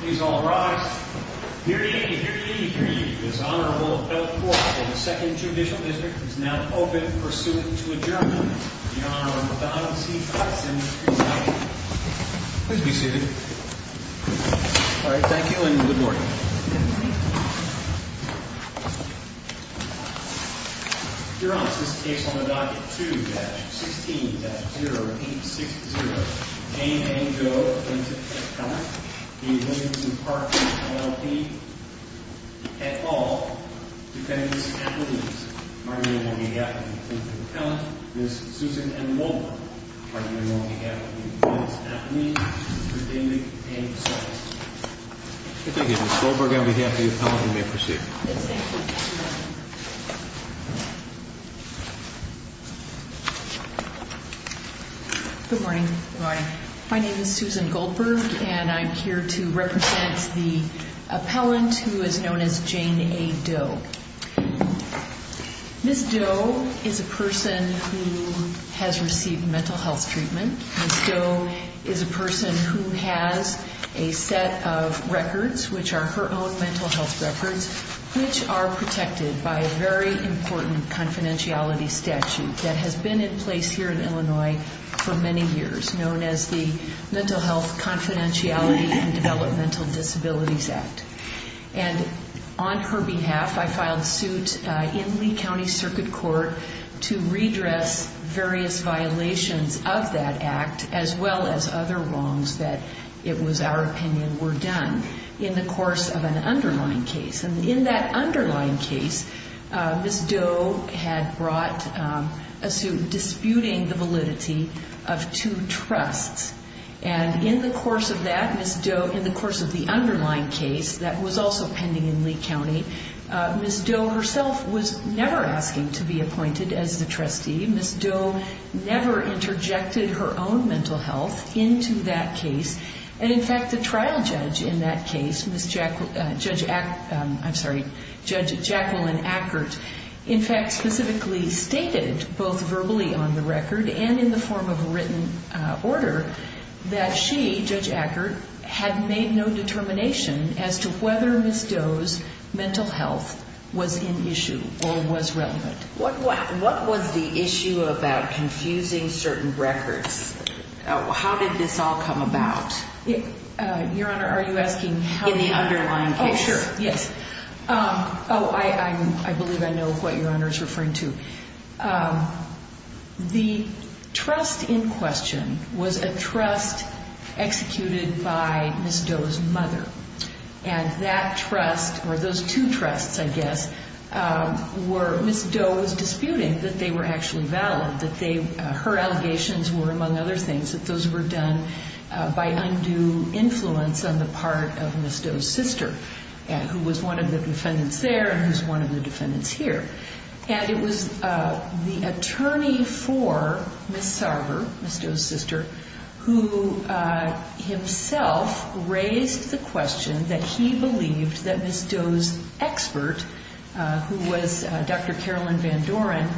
Please all rise. Hear ye, hear ye, hear ye. This Honorable Appellate Court of the Second Judicial District is now open pursuant to adjournment. The Honorable Donald C. Tyson is presiding. Please be seated. Alright, thank you and good morning. Your Honor, this case on the docket 2-16-0860 A. A. Doe v. Williams McCarthy LLP At all defendants appellees are you in one behalf of the plaintiff's account? Ms. Susan M. Mulder, are you in one behalf of the defendant's appellee? Mr. Dindig and Ms. Sullivan. Ms. Goldberg on behalf of the appellant, you may proceed. Good morning. My name is Susan Goldberg and I'm here to represent the appellant who is known as Jane A. Doe. Ms. Doe is a person who has received mental health treatment. Ms. Doe is a person who has a set of records, which are her own mental health records, which are protected by a very important confidentiality statute that has been in place here in Illinois for many years, known as the Mental Health Confidentiality and Developmental Disabilities Act. And on her behalf, I filed suit in Lee County Circuit Court to redress various violations of that act, as well as other wrongs that, it was our opinion, were done in the course of an underlying case. And in that underlying case, Ms. Doe had brought a suit disputing the validity of two trusts. And in the course of that, Ms. Doe, in the course of the underlying case that was also pending in Lee County, Ms. Doe herself was never asking to be appointed as the trustee. Ms. Doe never interjected her own mental health into that case. And in fact, the trial judge in that case, Judge Jacqueline Ackert, in fact specifically stated, both verbally on the record and in the form of a written order, that she, Judge Ackert, had made no determination as to whether Ms. Doe's mental health was in issue or was relevant. What was the issue about confusing certain records? How did this all come about? Your Honor, are you asking how? In the underlying case. Okay, sure. Yes. Oh, I believe I know what Your Honor is referring to. The trust in question was a trust executed by Ms. Doe's mother. And that trust, or those two trusts, I guess, were Ms. Doe's disputing that they were actually valid, that her allegations were, among other things, that those were done by undue influence on the part of Ms. Doe's sister, who was one of the defendants there and who's one of the defendants here. And it was the attorney for Ms. Sarver, Ms. Doe's sister, who himself raised the question that he believed that Ms. Doe's expert, who was Dr. Carolyn Van Doren,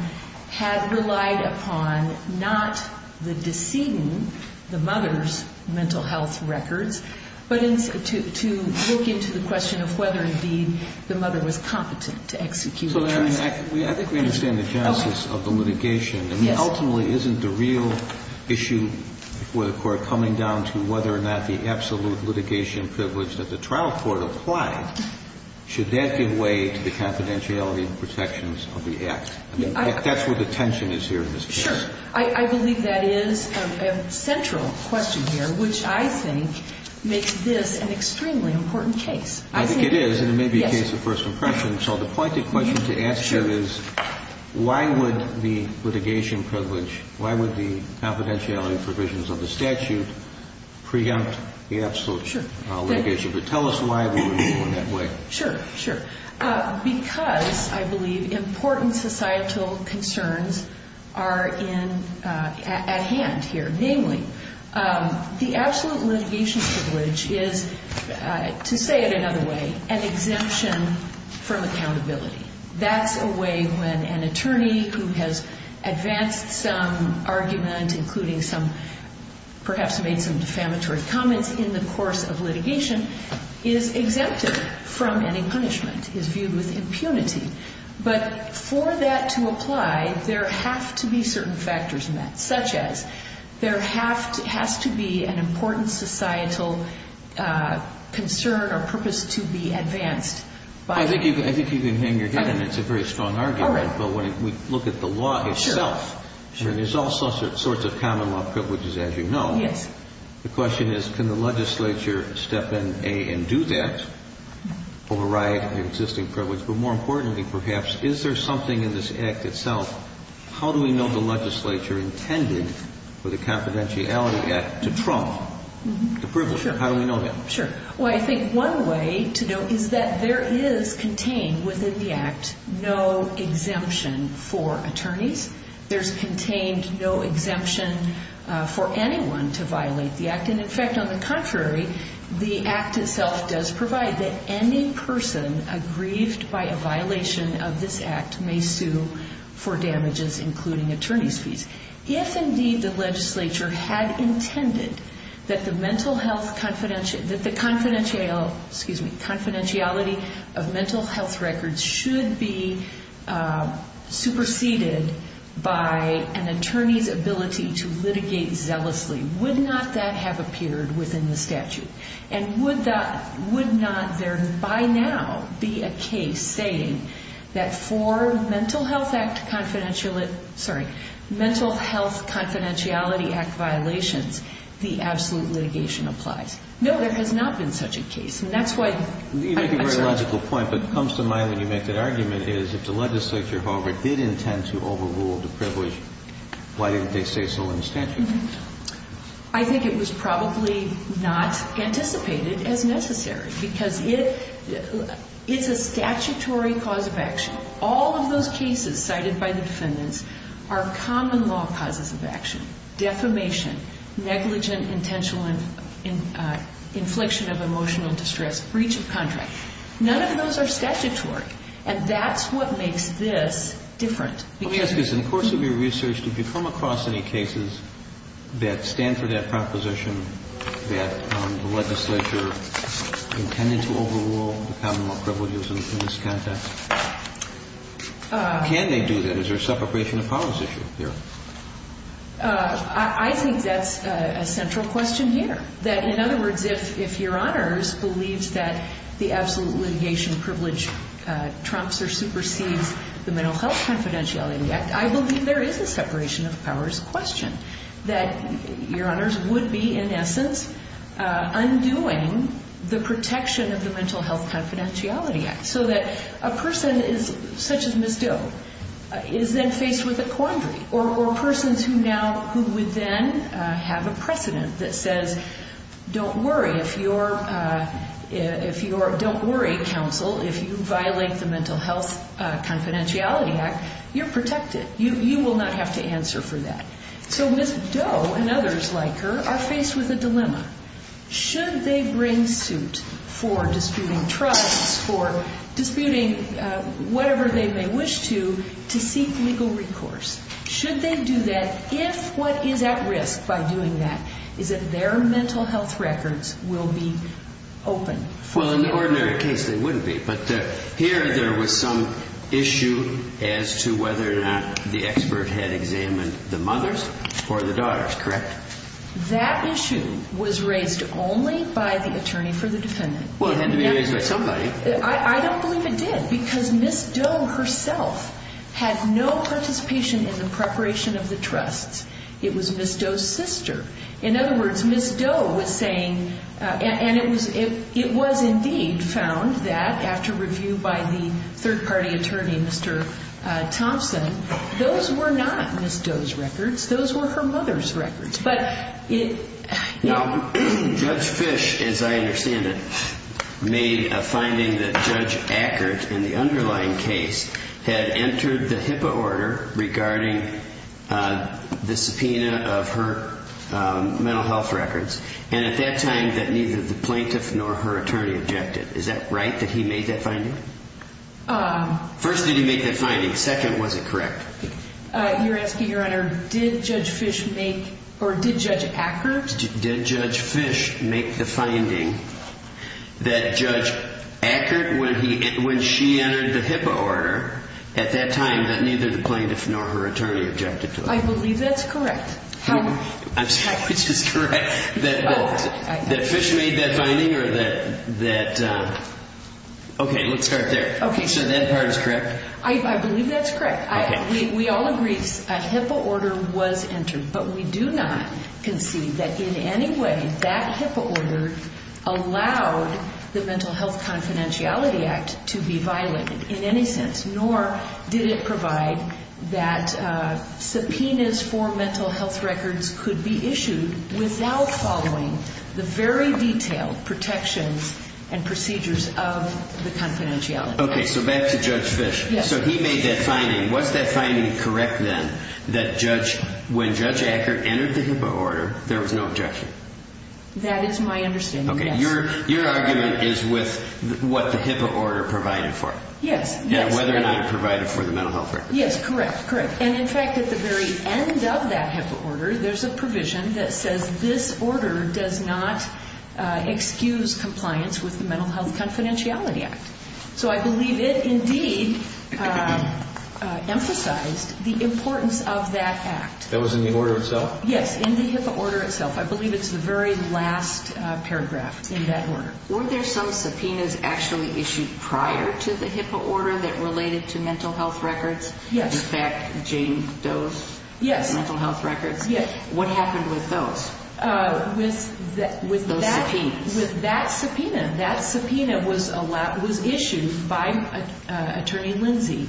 had relied upon not the deceiving the mother's mental health records, but to look into the question of whether, indeed, the mother was competent to execute the trust. So, I mean, I think we understand the genesis of the litigation. Yes. I mean, ultimately, isn't the real issue before the Court coming down to whether or not the absolute litigation privilege that the trial court applied, should that give way to the confidentiality and protections of the act? I mean, that's where the tension is here in this case. Sure. I believe that is a central question here, which I think makes this an extremely important case. I think it is, and it may be a case of first impression. So the pointed question to answer is, why would the litigation privilege, why would the confidentiality provisions of the statute preempt the absolute litigation? But tell us why we would go in that way. Sure, sure. Because, I believe, important societal concerns are at hand here, namely, the absolute litigation privilege is, to say it another way, an exemption from accountability. That's a way when an attorney who has advanced some argument, including some, perhaps made some defamatory comments in the course of litigation, is exempted from any punishment, is viewed with impunity. But for that to apply, there have to be certain factors met, such as there has to be an important societal concern or purpose to be advanced. I think you can hang your head in it. It's a very strong argument. All right. I think it's important to know when we look at the law itself, and there's all sorts of common law privileges, as you know. Yes. The question is, can the legislature step in and do that, override the existing privilege? But more importantly, perhaps, is there something in this Act itself, how do we know the legislature intended for the confidentiality Act to trump the privilege? How do we know that? Sure. Well, I think one way to know is that there is contained within the Act no exemption for attorneys. There's contained no exemption for anyone to violate the Act. And, in fact, on the contrary, the Act itself does provide that any person aggrieved by a violation of this Act may sue for damages, including attorney's fees. If, indeed, the legislature had intended that the confidentiality of mental health records should be superseded by an attorney's ability to litigate zealously, would not that have appeared within the statute? And would not there, by now, be a case saying that for mental health confidentiality Act violations, the absolute litigation applies? No, there has not been such a case. And that's why – You make a very logical point, but it comes to mind when you make that argument, is if the legislature, however, did intend to overrule the privilege, why didn't they say so in the statute? I think it was probably not anticipated as necessary. Because it's a statutory cause of action. All of those cases cited by the defendants are common law causes of action. Defamation, negligent, intentional infliction of emotional distress, breach of contract. None of those are statutory. And that's what makes this different. Let me ask this. In the course of your research, did you come across any cases that stand for that proposition that the legislature intended to overrule the common law privileges in this context? Can they do that? Is there a separation of powers issue there? I think that's a central question here. That, in other words, if Your Honors believes that the absolute litigation privilege trumps or supersedes the Mental Health Confidentiality Act, I believe there is a separation of powers question. That Your Honors would be, in essence, undoing the protection of the Mental Health Confidentiality Act so that a person such as Ms. Doe is then faced with a quandary or persons who would then have a precedent that says, Don't worry, counsel. If you violate the Mental Health Confidentiality Act, you're protected. You will not have to answer for that. So Ms. Doe and others like her are faced with a dilemma. Should they bring suit for disputing trusts, for disputing whatever they may wish to, to seek legal recourse? Should they do that if what is at risk by doing that is that their mental health records will be open? Well, in the ordinary case, they wouldn't be. But here there was some issue as to whether or not the expert had examined the mothers or the daughters, correct? That issue was raised only by the attorney for the defendant. Well, it had to be raised by somebody. I don't believe it did because Ms. Doe herself had no participation in the preparation of the trusts. It was Ms. Doe's sister. In other words, Ms. Doe was saying, and it was indeed found that, after review by the third-party attorney, Mr. Thompson, those were not Ms. Doe's records. Those were her mother's records. Now, Judge Fish, as I understand it, made a finding that Judge Ackert, in the underlying case, had entered the HIPAA order regarding the subpoena of her mental health records, and at that time that neither the plaintiff nor her attorney objected. Is that right, that he made that finding? First, did he make that finding? Second, was it correct? You're asking, Your Honor, did Judge Fish make or did Judge Ackert? Did Judge Fish make the finding that Judge Ackert, when she entered the HIPAA order, at that time that neither the plaintiff nor her attorney objected to it? I believe that's correct. I'm sorry, which is correct, that Fish made that finding or that, okay, let's start there. Okay. So that part is correct? I believe that's correct. Okay. We all agree a HIPAA order was entered, but we do not concede that in any way that HIPAA order allowed the Mental Health Confidentiality Act to be violated in any sense, nor did it provide that subpoenas for mental health records could be issued without following the very detailed protections and procedures of the confidentiality act. Okay. So back to Judge Fish. Yes. So he made that finding. Was that finding correct then, that when Judge Ackert entered the HIPAA order, there was no objection? That is my understanding, yes. Okay. Your argument is with what the HIPAA order provided for. Yes. Whether or not it provided for the mental health records. Yes, correct, correct. And, in fact, at the very end of that HIPAA order, there's a provision that says this order does not excuse compliance with the Mental Health Confidentiality Act. So I believe it indeed emphasized the importance of that act. That was in the order itself? Yes, in the HIPAA order itself. I believe it's the very last paragraph in that order. Weren't there some subpoenas actually issued prior to the HIPAA order that related to mental health records? Yes. In fact, Jane Doe's mental health records? Yes. What happened with those? With those subpoenas? With that subpoena. That subpoena was issued by Attorney Lindsey.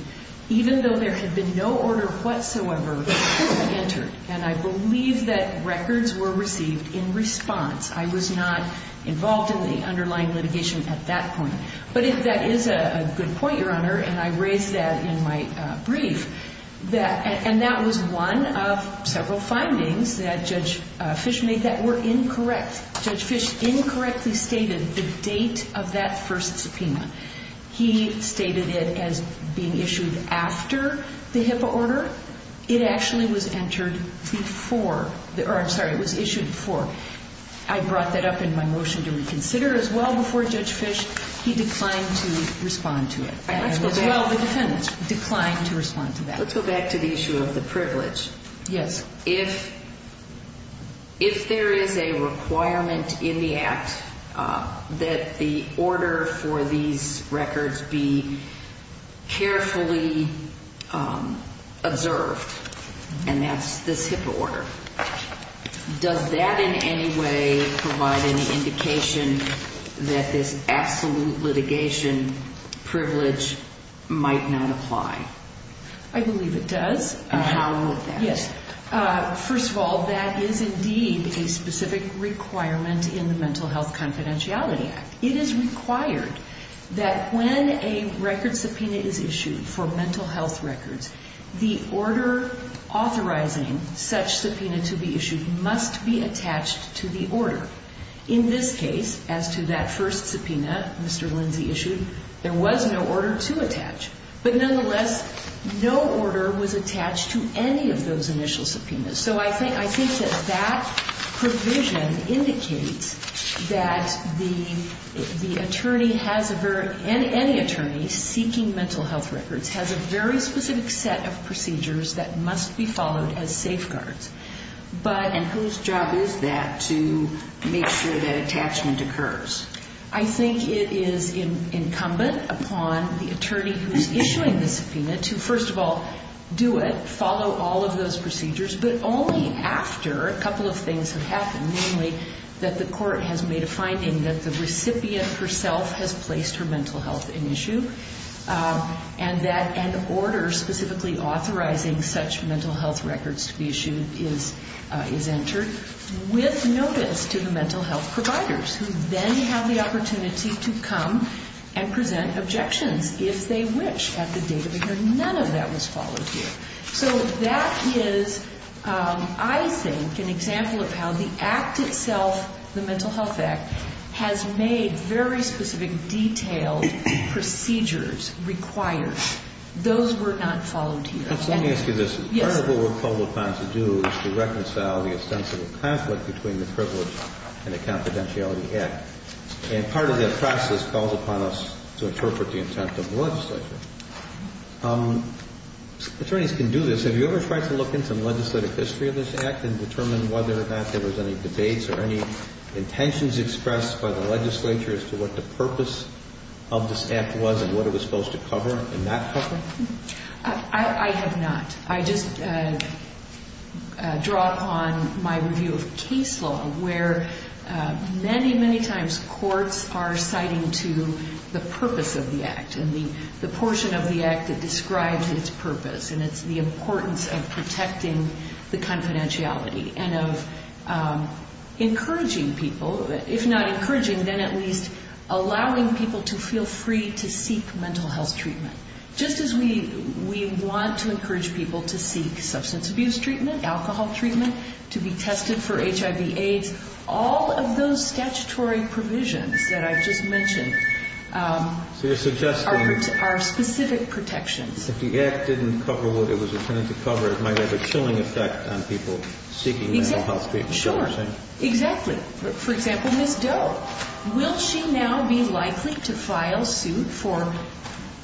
Even though there had been no order whatsoever, it was entered. And I believe that records were received in response. I was not involved in the underlying litigation at that point. But if that is a good point, Your Honor, and I raised that in my brief, and that was one of several findings that Judge Fish made that were incorrect. Judge Fish incorrectly stated the date of that first subpoena. He stated it as being issued after the HIPAA order. It actually was issued before. I brought that up in my motion to reconsider as well before Judge Fish. He declined to respond to it. And as well, the defendant declined to respond to that. Let's go back to the issue of the privilege. Yes. If there is a requirement in the act that the order for these records be carefully observed, and that's this HIPAA order, does that in any way provide any indication that this absolute litigation privilege might not apply? I believe it does. Yes. First of all, that is indeed a specific requirement in the Mental Health Confidentiality Act. It is required that when a record subpoena is issued for mental health records, the order authorizing such subpoena to be issued must be attached to the order. In this case, as to that first subpoena Mr. Lindsay issued, there was no order to attach. But nonetheless, no order was attached to any of those initial subpoenas. So I think that that provision indicates that the attorney has a very – any attorney seeking mental health records has a very specific set of procedures that must be followed as safeguards. And whose job is that to make sure that attachment occurs? I think it is incumbent upon the attorney who is issuing the subpoena to, first of all, do it, follow all of those procedures, but only after a couple of things have happened, namely that the court has made a finding that the recipient herself has placed her mental health in issue, and that an order specifically authorizing such mental health records to be issued is entered, with notice to the mental health providers, who then have the opportunity to come and present objections, if they wish, at the date of the hearing. None of that was followed here. So that is, I think, an example of how the Act itself, the Mental Health Act, has made very specific, detailed procedures required. Those were not followed here. Let me ask you this. Part of what we're called upon to do is to reconcile the ostensible conflict between the privilege and the confidentiality Act. And part of that process calls upon us to interpret the intent of the legislature. Attorneys can do this. Have you ever tried to look into the legislative history of this Act and determine whether or not there was any debates or any intentions expressed by the legislature as to what the purpose of this Act was and what it was supposed to cover and not cover? I have not. I just draw upon my review of case law, where many, many times courts are citing to the purpose of the Act and the portion of the Act that describes its purpose, and it's the importance of protecting the confidentiality and of encouraging people, if not encouraging, then at least allowing people to feel free to seek mental health treatment. Just as we want to encourage people to seek substance abuse treatment, alcohol treatment, to be tested for HIV-AIDS, all of those statutory provisions that I've just mentioned are specific protections. If the Act didn't cover what it was intended to cover, it might have a chilling effect on people seeking mental health treatment. Sure. Exactly. For example, Ms. Doe, will she now be likely to file suit for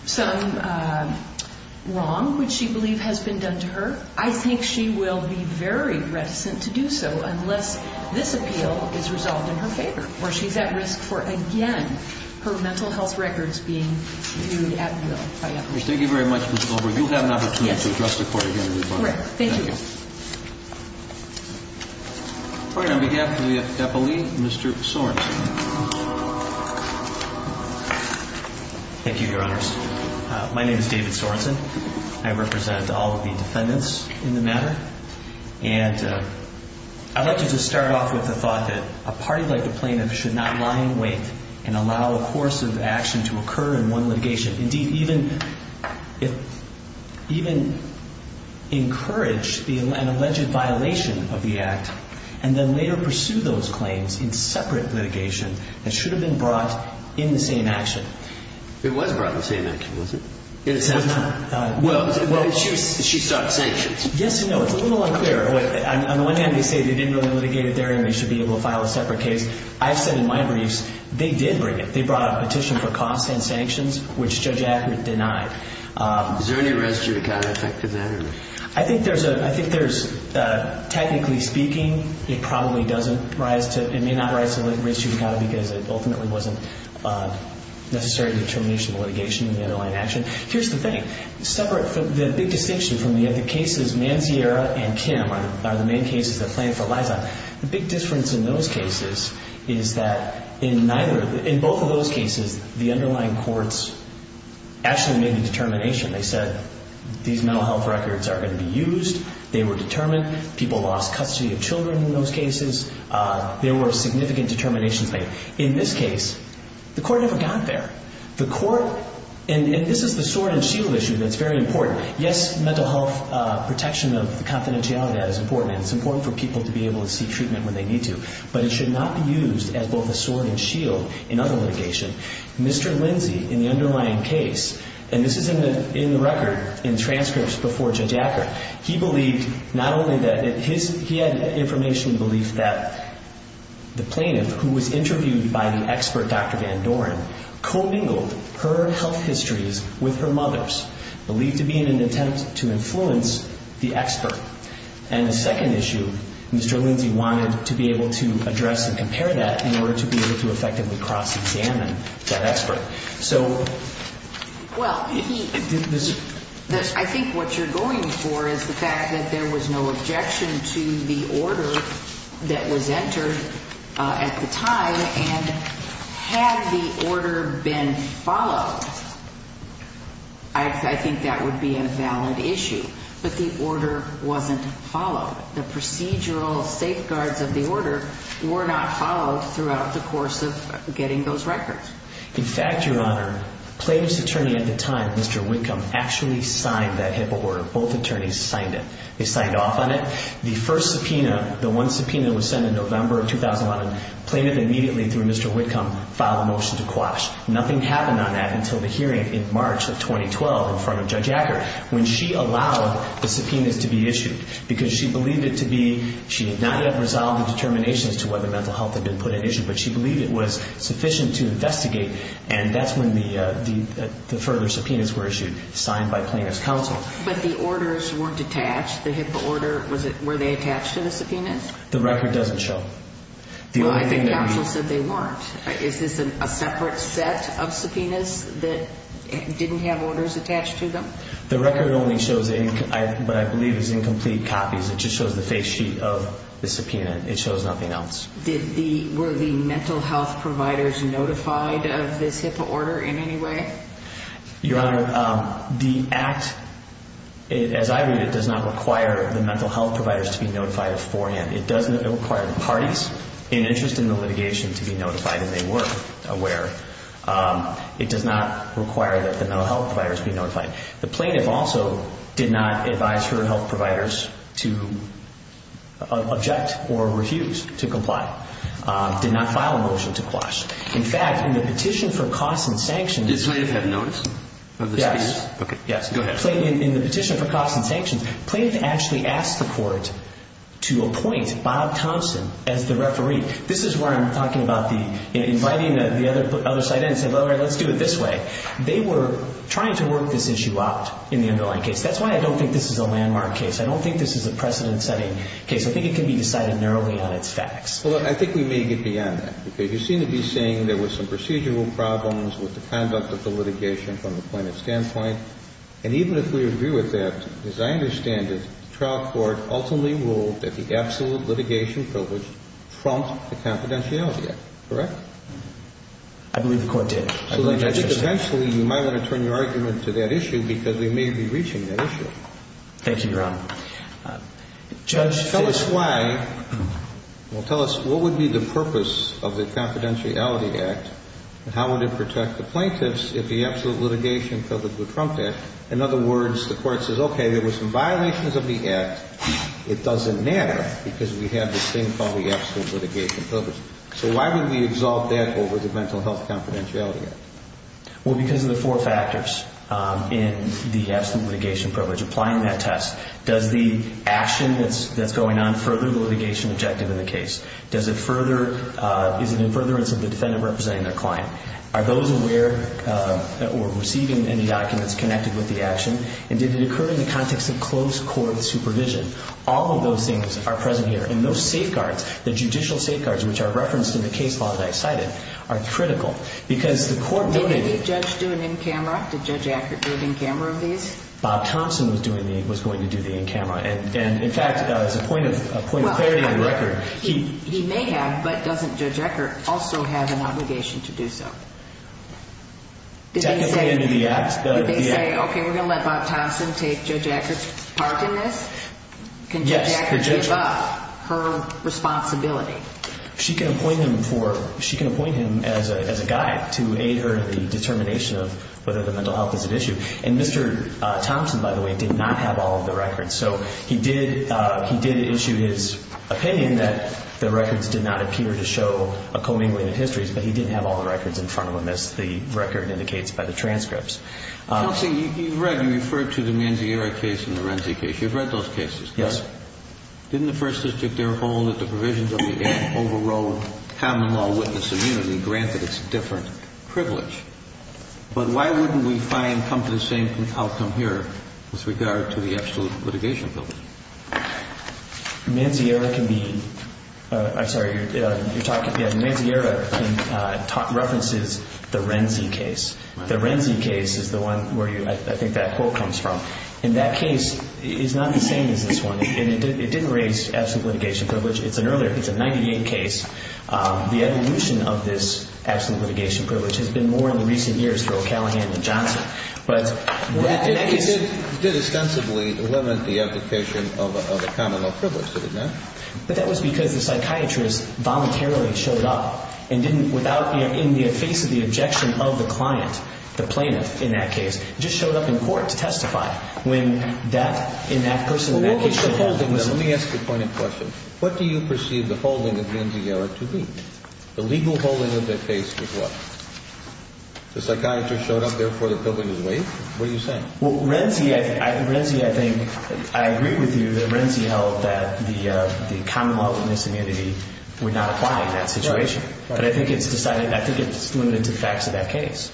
some wrong which she believes has been done to her? I think she will be very reticent to do so unless this appeal is resolved in her favor or she's at risk for, again, her mental health records being viewed at will by others. Thank you very much, Ms. Goldberg. You'll have an opportunity to address the Court of Human Rights. Correct. Thank you. Pointing on behalf of the deputy, Mr. Sorenson. Thank you, Your Honors. My name is David Sorenson. I represent all of the defendants in the matter. And I'd like to just start off with the thought that a party like the plaintiff should not lie in wait and allow a course of action to occur in one litigation. Indeed, even encourage an alleged violation of the act and then later pursue those claims in separate litigation that should have been brought in the same action. It was brought in the same action, was it? Well, she sought sanctions. Yes and no. It's a little unclear. On the one hand, they say they didn't really litigate it there and they should be able to file a separate case. I've said in my briefs, they did bring it. Which Judge Ackert denied. Is there any res judicata effect in that? I think there's, technically speaking, it probably doesn't rise to, it may not rise to res judicata because it ultimately wasn't necessary determination of litigation in the underlying action. Here's the thing. The big distinction from the other cases, Manziera and Kim are the main cases the plaintiff relies on. The big difference in those cases is that in both of those cases the underlying courts actually made a determination. They said these mental health records are going to be used. They were determined. People lost custody of children in those cases. There were significant determinations made. In this case, the court never got there. The court, and this is the sword and shield issue that's very important. Yes, mental health protection of confidentiality is important. It's important for people to be able to seek treatment when they need to. But it should not be used as both a sword and shield in other litigation. Mr. Lindsey, in the underlying case, and this is in the record, in transcripts before Judge Ackert, he believed not only that, he had information belief that the plaintiff, who was interviewed by the expert Dr. Van Doren, co-bingled her health histories with her mother's, believed to be in an attempt to influence the expert. And the second issue, Mr. Lindsey wanted to be able to address and compare that in order to be able to effectively cross-examine that expert. So... Well, I think what you're going for is the fact that there was no objection to the order that was entered at the time. And had the order been followed, I think that would be a valid issue. But the order wasn't followed. The procedural safeguards of the order were not followed throughout the course of getting those records. In fact, Your Honor, the plaintiff's attorney at the time, Mr. Whitcomb, actually signed that HIPAA order. Both attorneys signed it. They signed off on it. The first subpoena, the one subpoena that was sent in November of 2001, the plaintiff immediately, through Mr. Whitcomb, filed a motion to quash. Nothing happened on that until the hearing in March of 2012 in front of Judge Ackert, when she allowed the subpoenas to be issued. Because she believed it to be... She had not yet resolved the determinations to whether mental health had been put at issue, but she believed it was sufficient to investigate. And that's when the further subpoenas were issued, signed by plaintiff's counsel. But the orders weren't attached. The HIPAA order, were they attached to the subpoenas? The record doesn't show. Well, I think counsel said they weren't. Is this a separate set of subpoenas that didn't have orders attached to them? The record only shows what I believe is incomplete copies. It just shows the face sheet of the subpoena. It shows nothing else. Were the mental health providers notified of this HIPAA order in any way? Your Honor, the act, as I read it, does not require the mental health providers to be notified of forehand. It does require the parties in interest in the litigation to be notified if they were aware. It does not require that the mental health providers be notified. The plaintiff also did not advise her health providers to object or refuse to comply. Did not file a motion to quash. In fact, in the petition for costs and sanctions... Did the plaintiff have notice of the subpoenas? Yes. Go ahead. In the petition for costs and sanctions, the plaintiff actually asked the Court to appoint Bob Thompson as the referee. This is where I'm talking about the inviting the other side in and saying, well, all right, let's do it this way. They were trying to work this issue out in the underlying case. That's why I don't think this is a landmark case. I don't think this is a precedent-setting case. I think it can be decided narrowly on its facts. Well, I think we may get beyond that. You seem to be saying there were some procedural problems with the conduct of the litigation from the plaintiff's standpoint. And even if we agree with that, as I understand it, the trial court ultimately ruled that the absolute litigation privilege trumped the confidentiality act. Correct? I believe the Court did. I think eventually you might want to turn your argument to that issue because we may be reaching that issue. Thank you, Your Honor. Judge... Tell us why. Well, tell us what would be the purpose of the confidentiality act and how would it protect the plaintiffs if the absolute litigation privilege would trump that? In other words, the Court says, okay, there were some violations of the act. It doesn't matter because we have this thing called the absolute litigation privilege. So why would we exalt that over the mental health confidentiality act? Well, because of the four factors in the absolute litigation privilege applying that test. Does the action that's going on further the litigation objective in the case? Is it in furtherance of the defendant representing their client? Are those aware or receiving any documents connected with the action? And did it occur in the context of close court supervision? All of those things are present here. And those safeguards, the judicial safeguards which are referenced in the case law that I cited, are critical because the Court noted... Did the judge do an in-camera? Did Judge Ackert do an in-camera of these? Bob Thompson was going to do the in-camera. And, in fact, as a point of clarity on the record... He may have, but doesn't Judge Ackert also have an obligation to do so? Did they say, okay, we're going to let Bob Thompson take Judge Ackert's part in this? Can Judge Ackert give up her responsibility? She can appoint him as a guide to aid her in the determination of whether the mental health is at issue. And Mr. Thompson, by the way, did not have all of the records. So he did issue his opinion that the records did not appear to show a commingling of histories, but he didn't have all the records in front of him as the record indicates by the transcripts. Thompson, you've read and referred to the Manzieri case and the Renzi case. You've read those cases, correct? Yes. Didn't the First District there hold that the provisions of the Act overrode common law witness immunity, granted its different privilege? But why wouldn't we find, come to the same outcome here with regard to the absolute litigation privilege? Manzieri can be, I'm sorry, you're talking, yes, Manzieri references the Renzi case. The Renzi case is the one where I think that quote comes from. And that case is not the same as this one. It didn't raise absolute litigation privilege. It's an earlier, it's a 98 case. The evolution of this absolute litigation privilege has been more in the recent years for O'Callaghan than Johnson. But in that case. It did ostensibly limit the application of a common law privilege, did it not? But that was because the psychiatrist voluntarily showed up and didn't, without, in the face of the objection of the client, the plaintiff in that case, just showed up in court to testify. When that, in that person in that case. Let me ask you a pointed question. What do you perceive the holding of Manzieri to be? The legal holding of that case was what? The psychiatrist showed up, therefore the privilege is waived? What are you saying? Well, Renzi, I think, I agree with you that Renzi held that the common law witness immunity would not apply in that situation. But I think it's decided, I think it's limited to the facts of that case.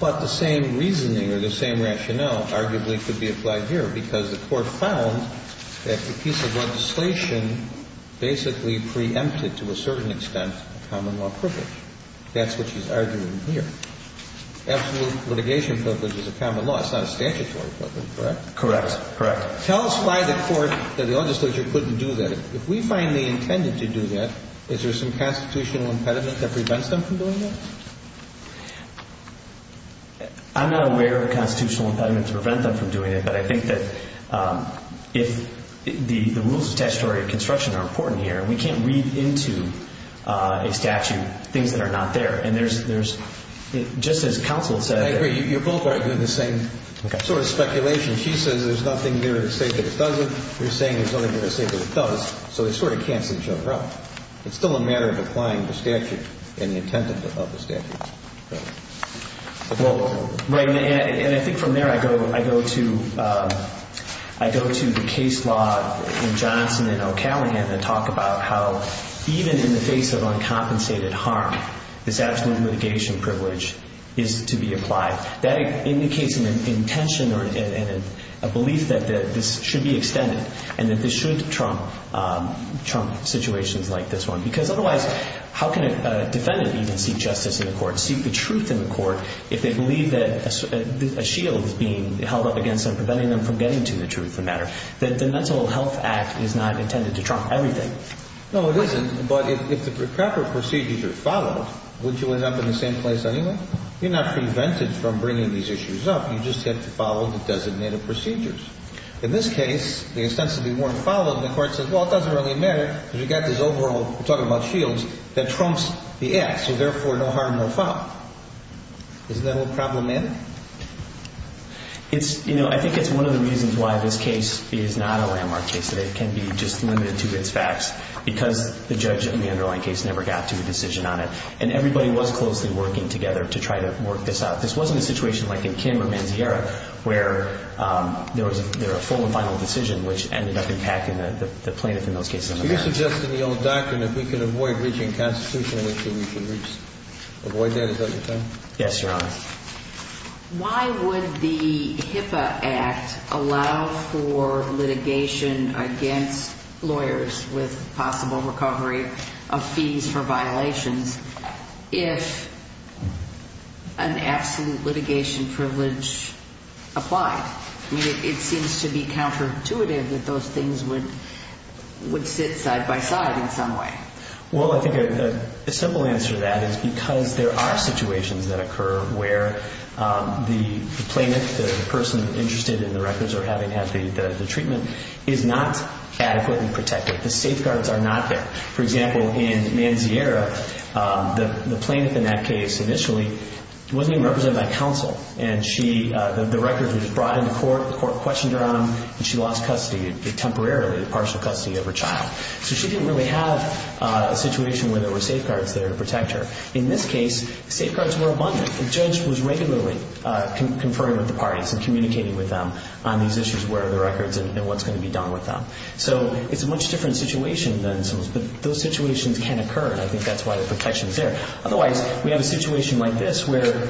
But the same reasoning or the same rationale arguably could be applied here. Because the court found that the piece of legislation basically preempted, to a certain extent, a common law privilege. That's what she's arguing here. Absolute litigation privilege is a common law. It's not a statutory privilege, correct? Correct. Correct. Tell us why the court or the legislature couldn't do that. If we find they intended to do that, is there some constitutional impediment that prevents them from doing that? I'm not aware of a constitutional impediment to prevent them from doing it. But I think that if the rules of statutory construction are important here, we can't read into a statute things that are not there. And there's, just as counsel said. I agree. You're both arguing the same sort of speculation. She says there's nothing there to say that it doesn't. You're saying there's nothing there to say that it does. So they sort of cancel each other out. It's still a matter of applying the statute in the intent of the statute. Right. And I think from there I go to the case law in Johnson and O'Callaghan that talk about how even in the face of uncompensated harm, this absolute litigation privilege is to be applied. That indicates an intention or a belief that this should be extended and that this should trump situations like this one. Because otherwise, how can a defendant even seek justice in the court, seek the truth in the court, if they believe that a shield is being held up against them, preventing them from getting to the truth of the matter? The Mental Health Act is not intended to trump everything. No, it isn't. But if the proper procedures are followed, would you end up in the same place anyway? You're not prevented from bringing these issues up. You just have to follow the designated procedures. In this case, the ostensibly weren't followed, and the court says, well, it doesn't really matter, because you've got this overall, we're talking about shields, that trumps the act. So therefore, no harm, no foul. Isn't that a little problematic? It's, you know, I think it's one of the reasons why this case is not a landmark case today. It can be just limited to its facts because the judge in the underlying case never got to a decision on it. And everybody was closely working together to try to work this out. This wasn't a situation like in Kim or Manziera where there was a full and final decision, which ended up impacting the plaintiff in those cases. So you're suggesting the old doctrine, if we can avoid reaching a constitution, we can avoid that as well? Yes, Your Honor. Why would the HIPAA Act allow for litigation against lawyers with possible recovery of fees for violations if an absolute litigation privilege applied? I mean, it seems to be counterintuitive that those things would sit side by side in some way. Well, I think a simple answer to that is because there are situations that occur where the plaintiff, the person interested in the records or having had the treatment, is not adequately protected. The safeguards are not there. For example, in Manziera, the plaintiff in that case initially wasn't even represented by counsel. And the records were just brought into court, the court questioned her on them, and she lost custody temporarily, partial custody of her child. So she didn't really have a situation where there were safeguards there to protect her. In this case, safeguards were abundant. The judge was regularly conferring with the parties and communicating with them on these issues, where are the records and what's going to be done with them. So it's a much different situation than some of those, but those situations can occur, and I think that's why the protection is there. Otherwise, we have a situation like this where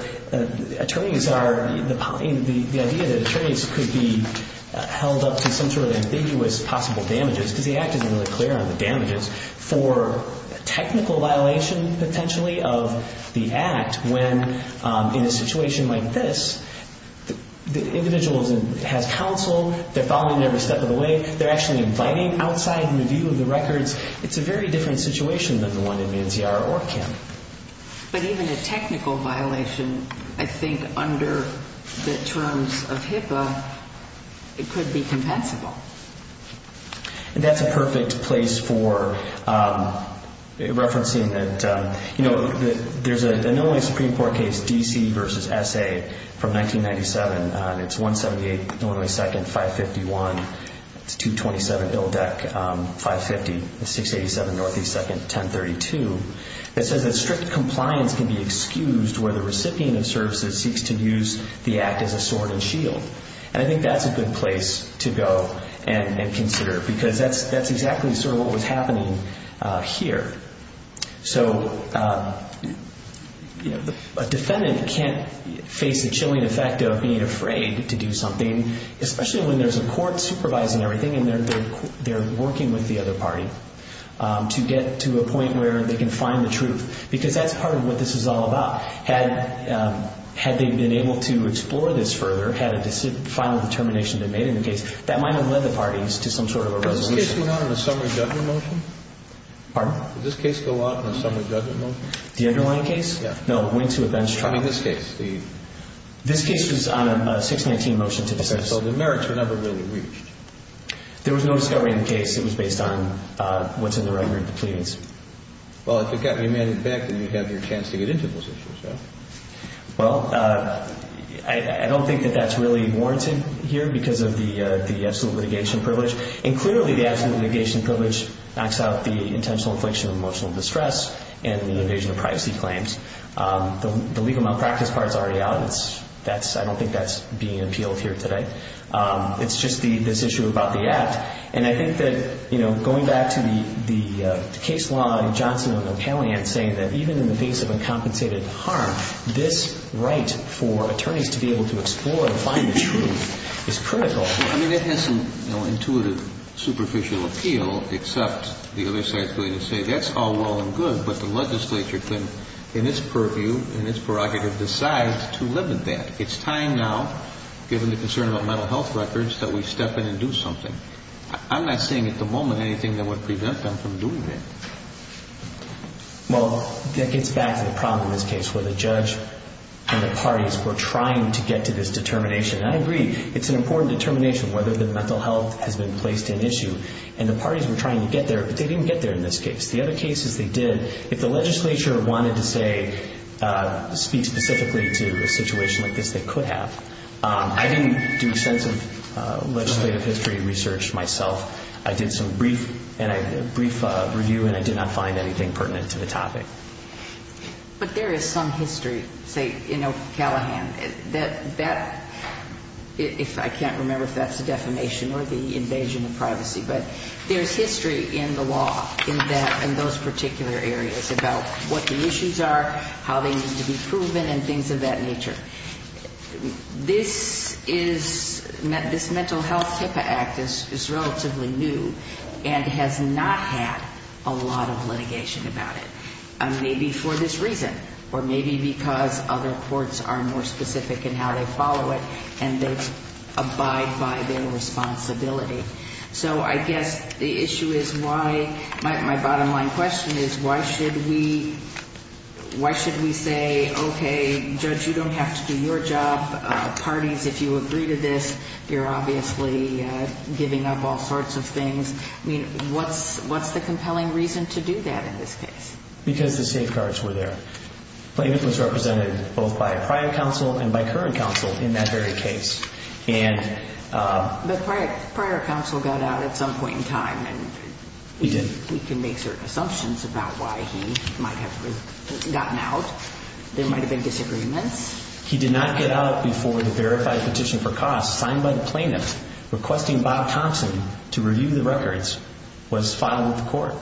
attorneys are, the idea that attorneys could be held up to some sort of ambiguous possible damages because the act isn't really clear on the damages, for a technical violation potentially of the act when in a situation like this, the individual has counsel, they're following them every step of the way, they're actually inviting outside in the view of the records. It's a very different situation than the one in Manziera or Kim. But even a technical violation, I think under the terms of HIPAA, it could be compensable. And that's a perfect place for referencing that, you know, there's a normally Supreme Court case, D.C. v. S.A. from 1997, and it's 178 N.S. 551, 227 I.D. 550, 687 N.S. 1032, that says that strict compliance can be excused where the recipient of services seeks to use the act as a sword and shield. And I think that's a good place to go and consider because that's exactly sort of what was happening here. So a defendant can't face the chilling effect of being afraid to do something, especially when there's a court supervising everything and they're working with the other party to get to a point where they can find the truth because that's part of what this is all about. And so, you know, with this case, the Supreme Court, whether or not it's been a valid case and whether or not it's not, had they been able to explore this further, had a final determination they made in the case, that might have led the parties to some sort of a resolution. Does this case go out on a summary judgment motion? Pardon? Does this case go out on a summary judgment motion? The underlying case? Yeah. No, it went to a bench trial. I mean, this case. This case was on a 619 motion to the Senate. So the merits were never really reached. There was no discovery in the case. It was based on what's in the record of the pleadings. Well, if it got remanded back, then you'd have your chance to get into those issues, right? Well, I don't think that that's really warranted here because of the absolute litigation privilege. And clearly, the absolute litigation privilege knocks out the intentional infliction of emotional distress and the invasion of privacy claims. The legal malpractice part is already out. I don't think that's being appealed here today. It's just this issue about the act. And I think that, you know, going back to the case law in Johnson and O'Neill County and saying that even in the face of uncompensated harm, this right for attorneys to be able to explore and find the truth is critical. I mean, it has some, you know, intuitive superficial appeal, except the other side is going to say that's all well and good, but the legislature can, in its purview, in its prerogative, decide to limit that. It's time now, given the concern about mental health records, that we step in and do something. I'm not seeing at the moment anything that would prevent them from doing that. Well, that gets back to the problem in this case where the judge and the parties were trying to get to this determination. And I agree. It's an important determination whether the mental health has been placed in issue. And the parties were trying to get there, but they didn't get there in this case. The other cases they did, if the legislature wanted to, say, speak specifically to a situation like this, they could have. I didn't do extensive legislative history research myself. I did some brief review, and I did not find anything pertinent to the topic. But there is some history, say, in Ocalahan. That, if I can't remember if that's a defamation or the invasion of privacy, but there's history in the law in those particular areas about what the issues are, how they need to be proven, and things of that nature. This is ñ this Mental Health HIPAA Act is relatively new and has not had a lot of litigation about it, maybe for this reason or maybe because other courts are more specific in how they follow it and they abide by their responsibility. So I guess the issue is why ñ my bottom line question is why should we say, okay, judge, you don't have to do your job. Parties, if you agree to this, you're obviously giving up all sorts of things. I mean, what's the compelling reason to do that in this case? Because the safeguards were there. It was represented both by prior counsel and by current counsel in that very case. But prior counsel got out at some point in time. He did. We can make certain assumptions about why he might have gotten out. There might have been disagreements. He did not get out before the verified petition for costs signed by the plaintiff requesting Bob Thompson to review the records was filed with the court.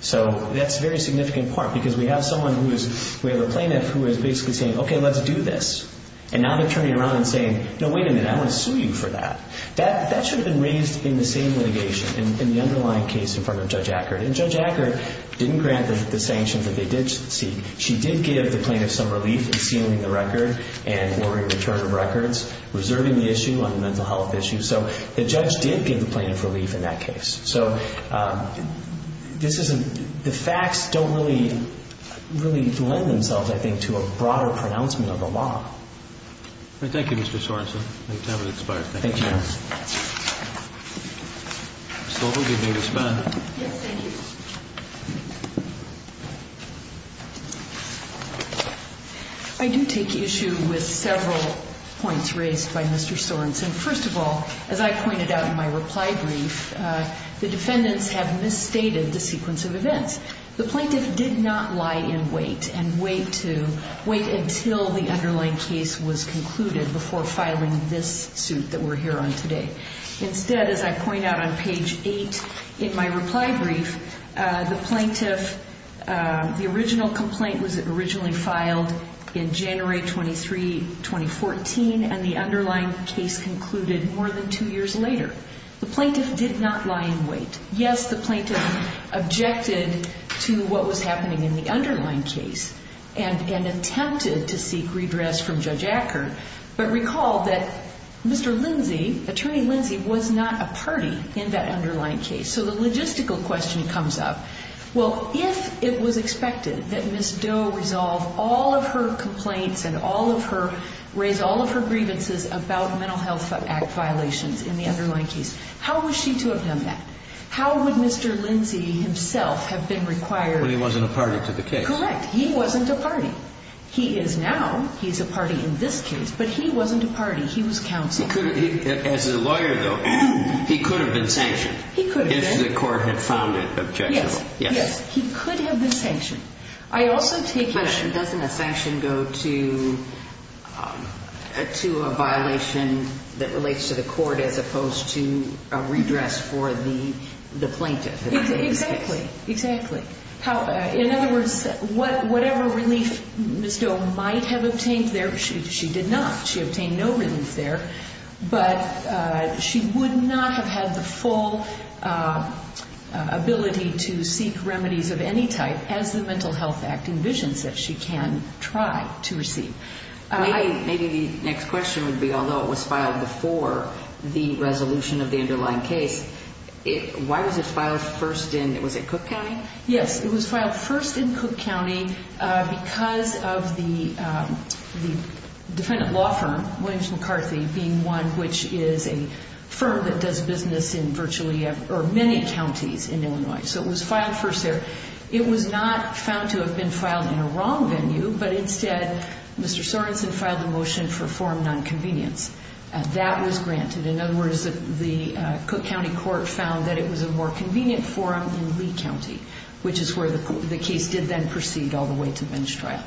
So that's a very significant part because we have someone who is ñ we have a plaintiff who is basically saying, okay, let's do this. And now they're turning around and saying, no, wait a minute, I want to sue you for that. That should have been raised in the same litigation, in the underlying case in front of Judge Ackert. And Judge Ackert didn't grant the sanctions that they did seek. She did give the plaintiff some relief in sealing the record and ordering return of records, reserving the issue on a mental health issue. So the judge did give the plaintiff relief in that case. So this isn't ñ the facts don't really ñ really lend themselves, I think, to a broader pronouncement of the law. Thank you, Mr. Sorensen. I think time has expired. Thank you. Thank you, Your Honor. Ms. Stoltenberg, you may disband. Yes, thank you. I do take issue with several points raised by Mr. Sorensen. First of all, as I pointed out in my reply brief, the defendants have misstated the sequence of events. The plaintiff did not lie in wait and wait to ñ wait until the underlying case was concluded before filing this suit that we're here on today. The plaintiff did not lie in wait. Yes, the plaintiff objected to what was happening in the underlying case and attempted to seek redress from Judge Ackert. But recall that Mr. Lindsey, Attorney Lindsey, was not a party in that underlying case. So the logistical question comes up. Well, if it was expected that Ms. Doe resolve all of her complaints and all of her ñ raise all of her grievances about Mental Health Act violations in the underlying case, how was she to have done that? How would Mr. Lindsey himself have been required ñ When he wasn't a party to the case. Correct. He wasn't a party. He is now. He's a party in this case. But he wasn't a party. He was counsel. He could have ñ as a lawyer, though, he could have been sanctioned. He could have been. If the court had found it objectionable. Yes. Yes. He could have been sanctioned. I also take your ñ But doesn't a sanction go to a violation that relates to the court as opposed to a redress for the plaintiff? Exactly. Exactly. In other words, whatever relief Ms. Doe might have obtained there, she did not. She obtained no relief there. But she would not have had the full ability to seek remedies of any type as the Mental Health Act envisions that she can try to receive. Maybe the next question would be, although it was filed before the resolution of the underlying case, why was it filed first in ñ was it Cook County? Yes. It was filed first in Cook County because of the defendant law firm, Williams McCarthy, being one which is a firm that does business in virtually ñ or many counties in Illinois. So it was filed first there. It was not found to have been filed in a wrong venue, but instead Mr. Sorensen filed a motion for forum nonconvenience. That was granted. In other words, the Cook County court found that it was a more convenient forum in Lee County, which is where the case did then proceed all the way to bench trial.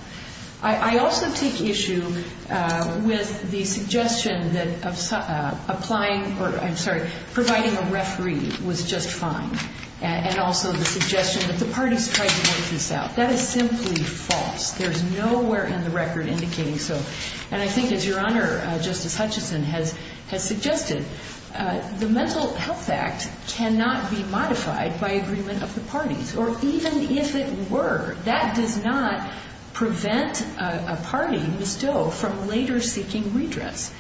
I also take issue with the suggestion that applying ñ or, I'm sorry, providing a referee was just fine, and also the suggestion that the parties tried to work this out. That is simply false. There is nowhere in the record indicating so. And I think, as Your Honor, Justice Hutchison has suggested, the Mental Health Act cannot be modified by agreement of the parties. Or even if it were, that does not prevent a party, Ms. Doe, from later seeking redress.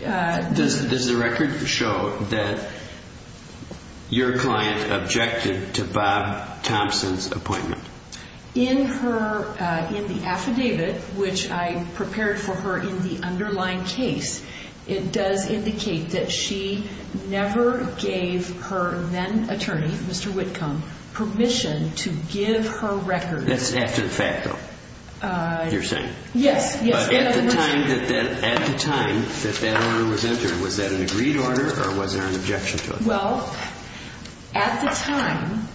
Does the record show that your client objected to Bob Thompson's appointment? In her ñ in the affidavit, which I prepared for her in the underlying case, it does indicate that she never gave her then-attorney, Mr. Whitcomb, permission to give her record. That's after the fact, though, you're saying? Yes. But at the time that that order was entered, was that an agreed order or was there an objection to it? Well, at the time,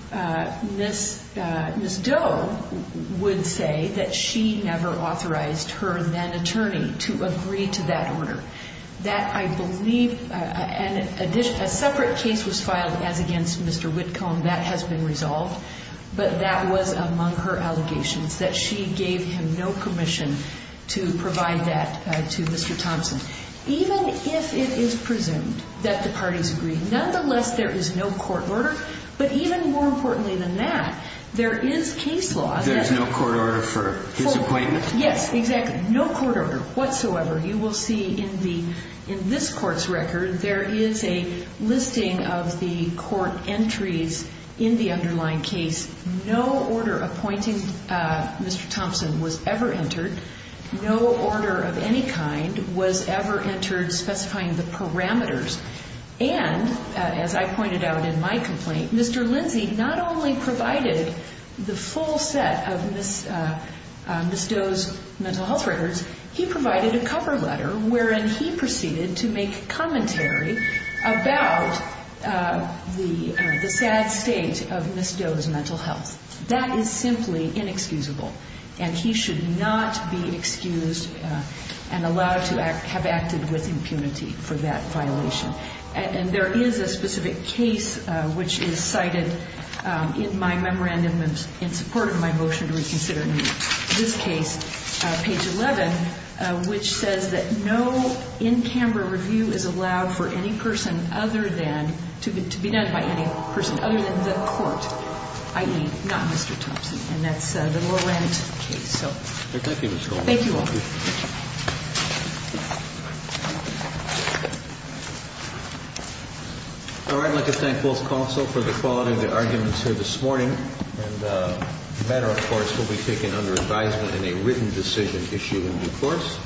Ms. Doe would say that she never authorized her then-attorney to agree to that order. That, I believe ñ a separate case was filed as against Mr. Whitcomb. That has been resolved. But that was among her allegations, that she gave him no commission to provide that to Mr. Thompson. Even if it is presumed that the parties agreed, nonetheless, there is no court order. But even more importantly than that, there is case law. There is no court order for his appointment? Yes, exactly. No court order whatsoever. You will see in the ñ in this court's record, there is a listing of the court entries in the underlying case. No order appointing Mr. Thompson was ever entered. No order of any kind was ever entered specifying the parameters. And, as I pointed out in my complaint, Mr. Lindsay not only provided the full set of Ms. Doe's mental health records, he provided a cover letter wherein he proceeded to make commentary about the sad state of Ms. Doe's mental health. That is simply inexcusable. And he should not be excused and allowed to have acted with impunity for that violation. And there is a specific case which is cited in my memorandum in support of my motion to reconsider this case, page 11, which says that no in-camera review is allowed for any person other than ñ to be done by any person other than the court, i.e., not Mr. Thompson. And that's the Laurent case. Thank you, Ms. Goldberg. Thank you all. All right. I'd like to thank both counsel for the quality of their arguments here this morning. And the matter, of course, will be taken under advisement in a written decision issued in due course.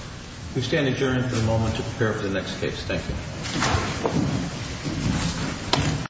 We stand adjourned for the moment to prepare for the next case. Thank you.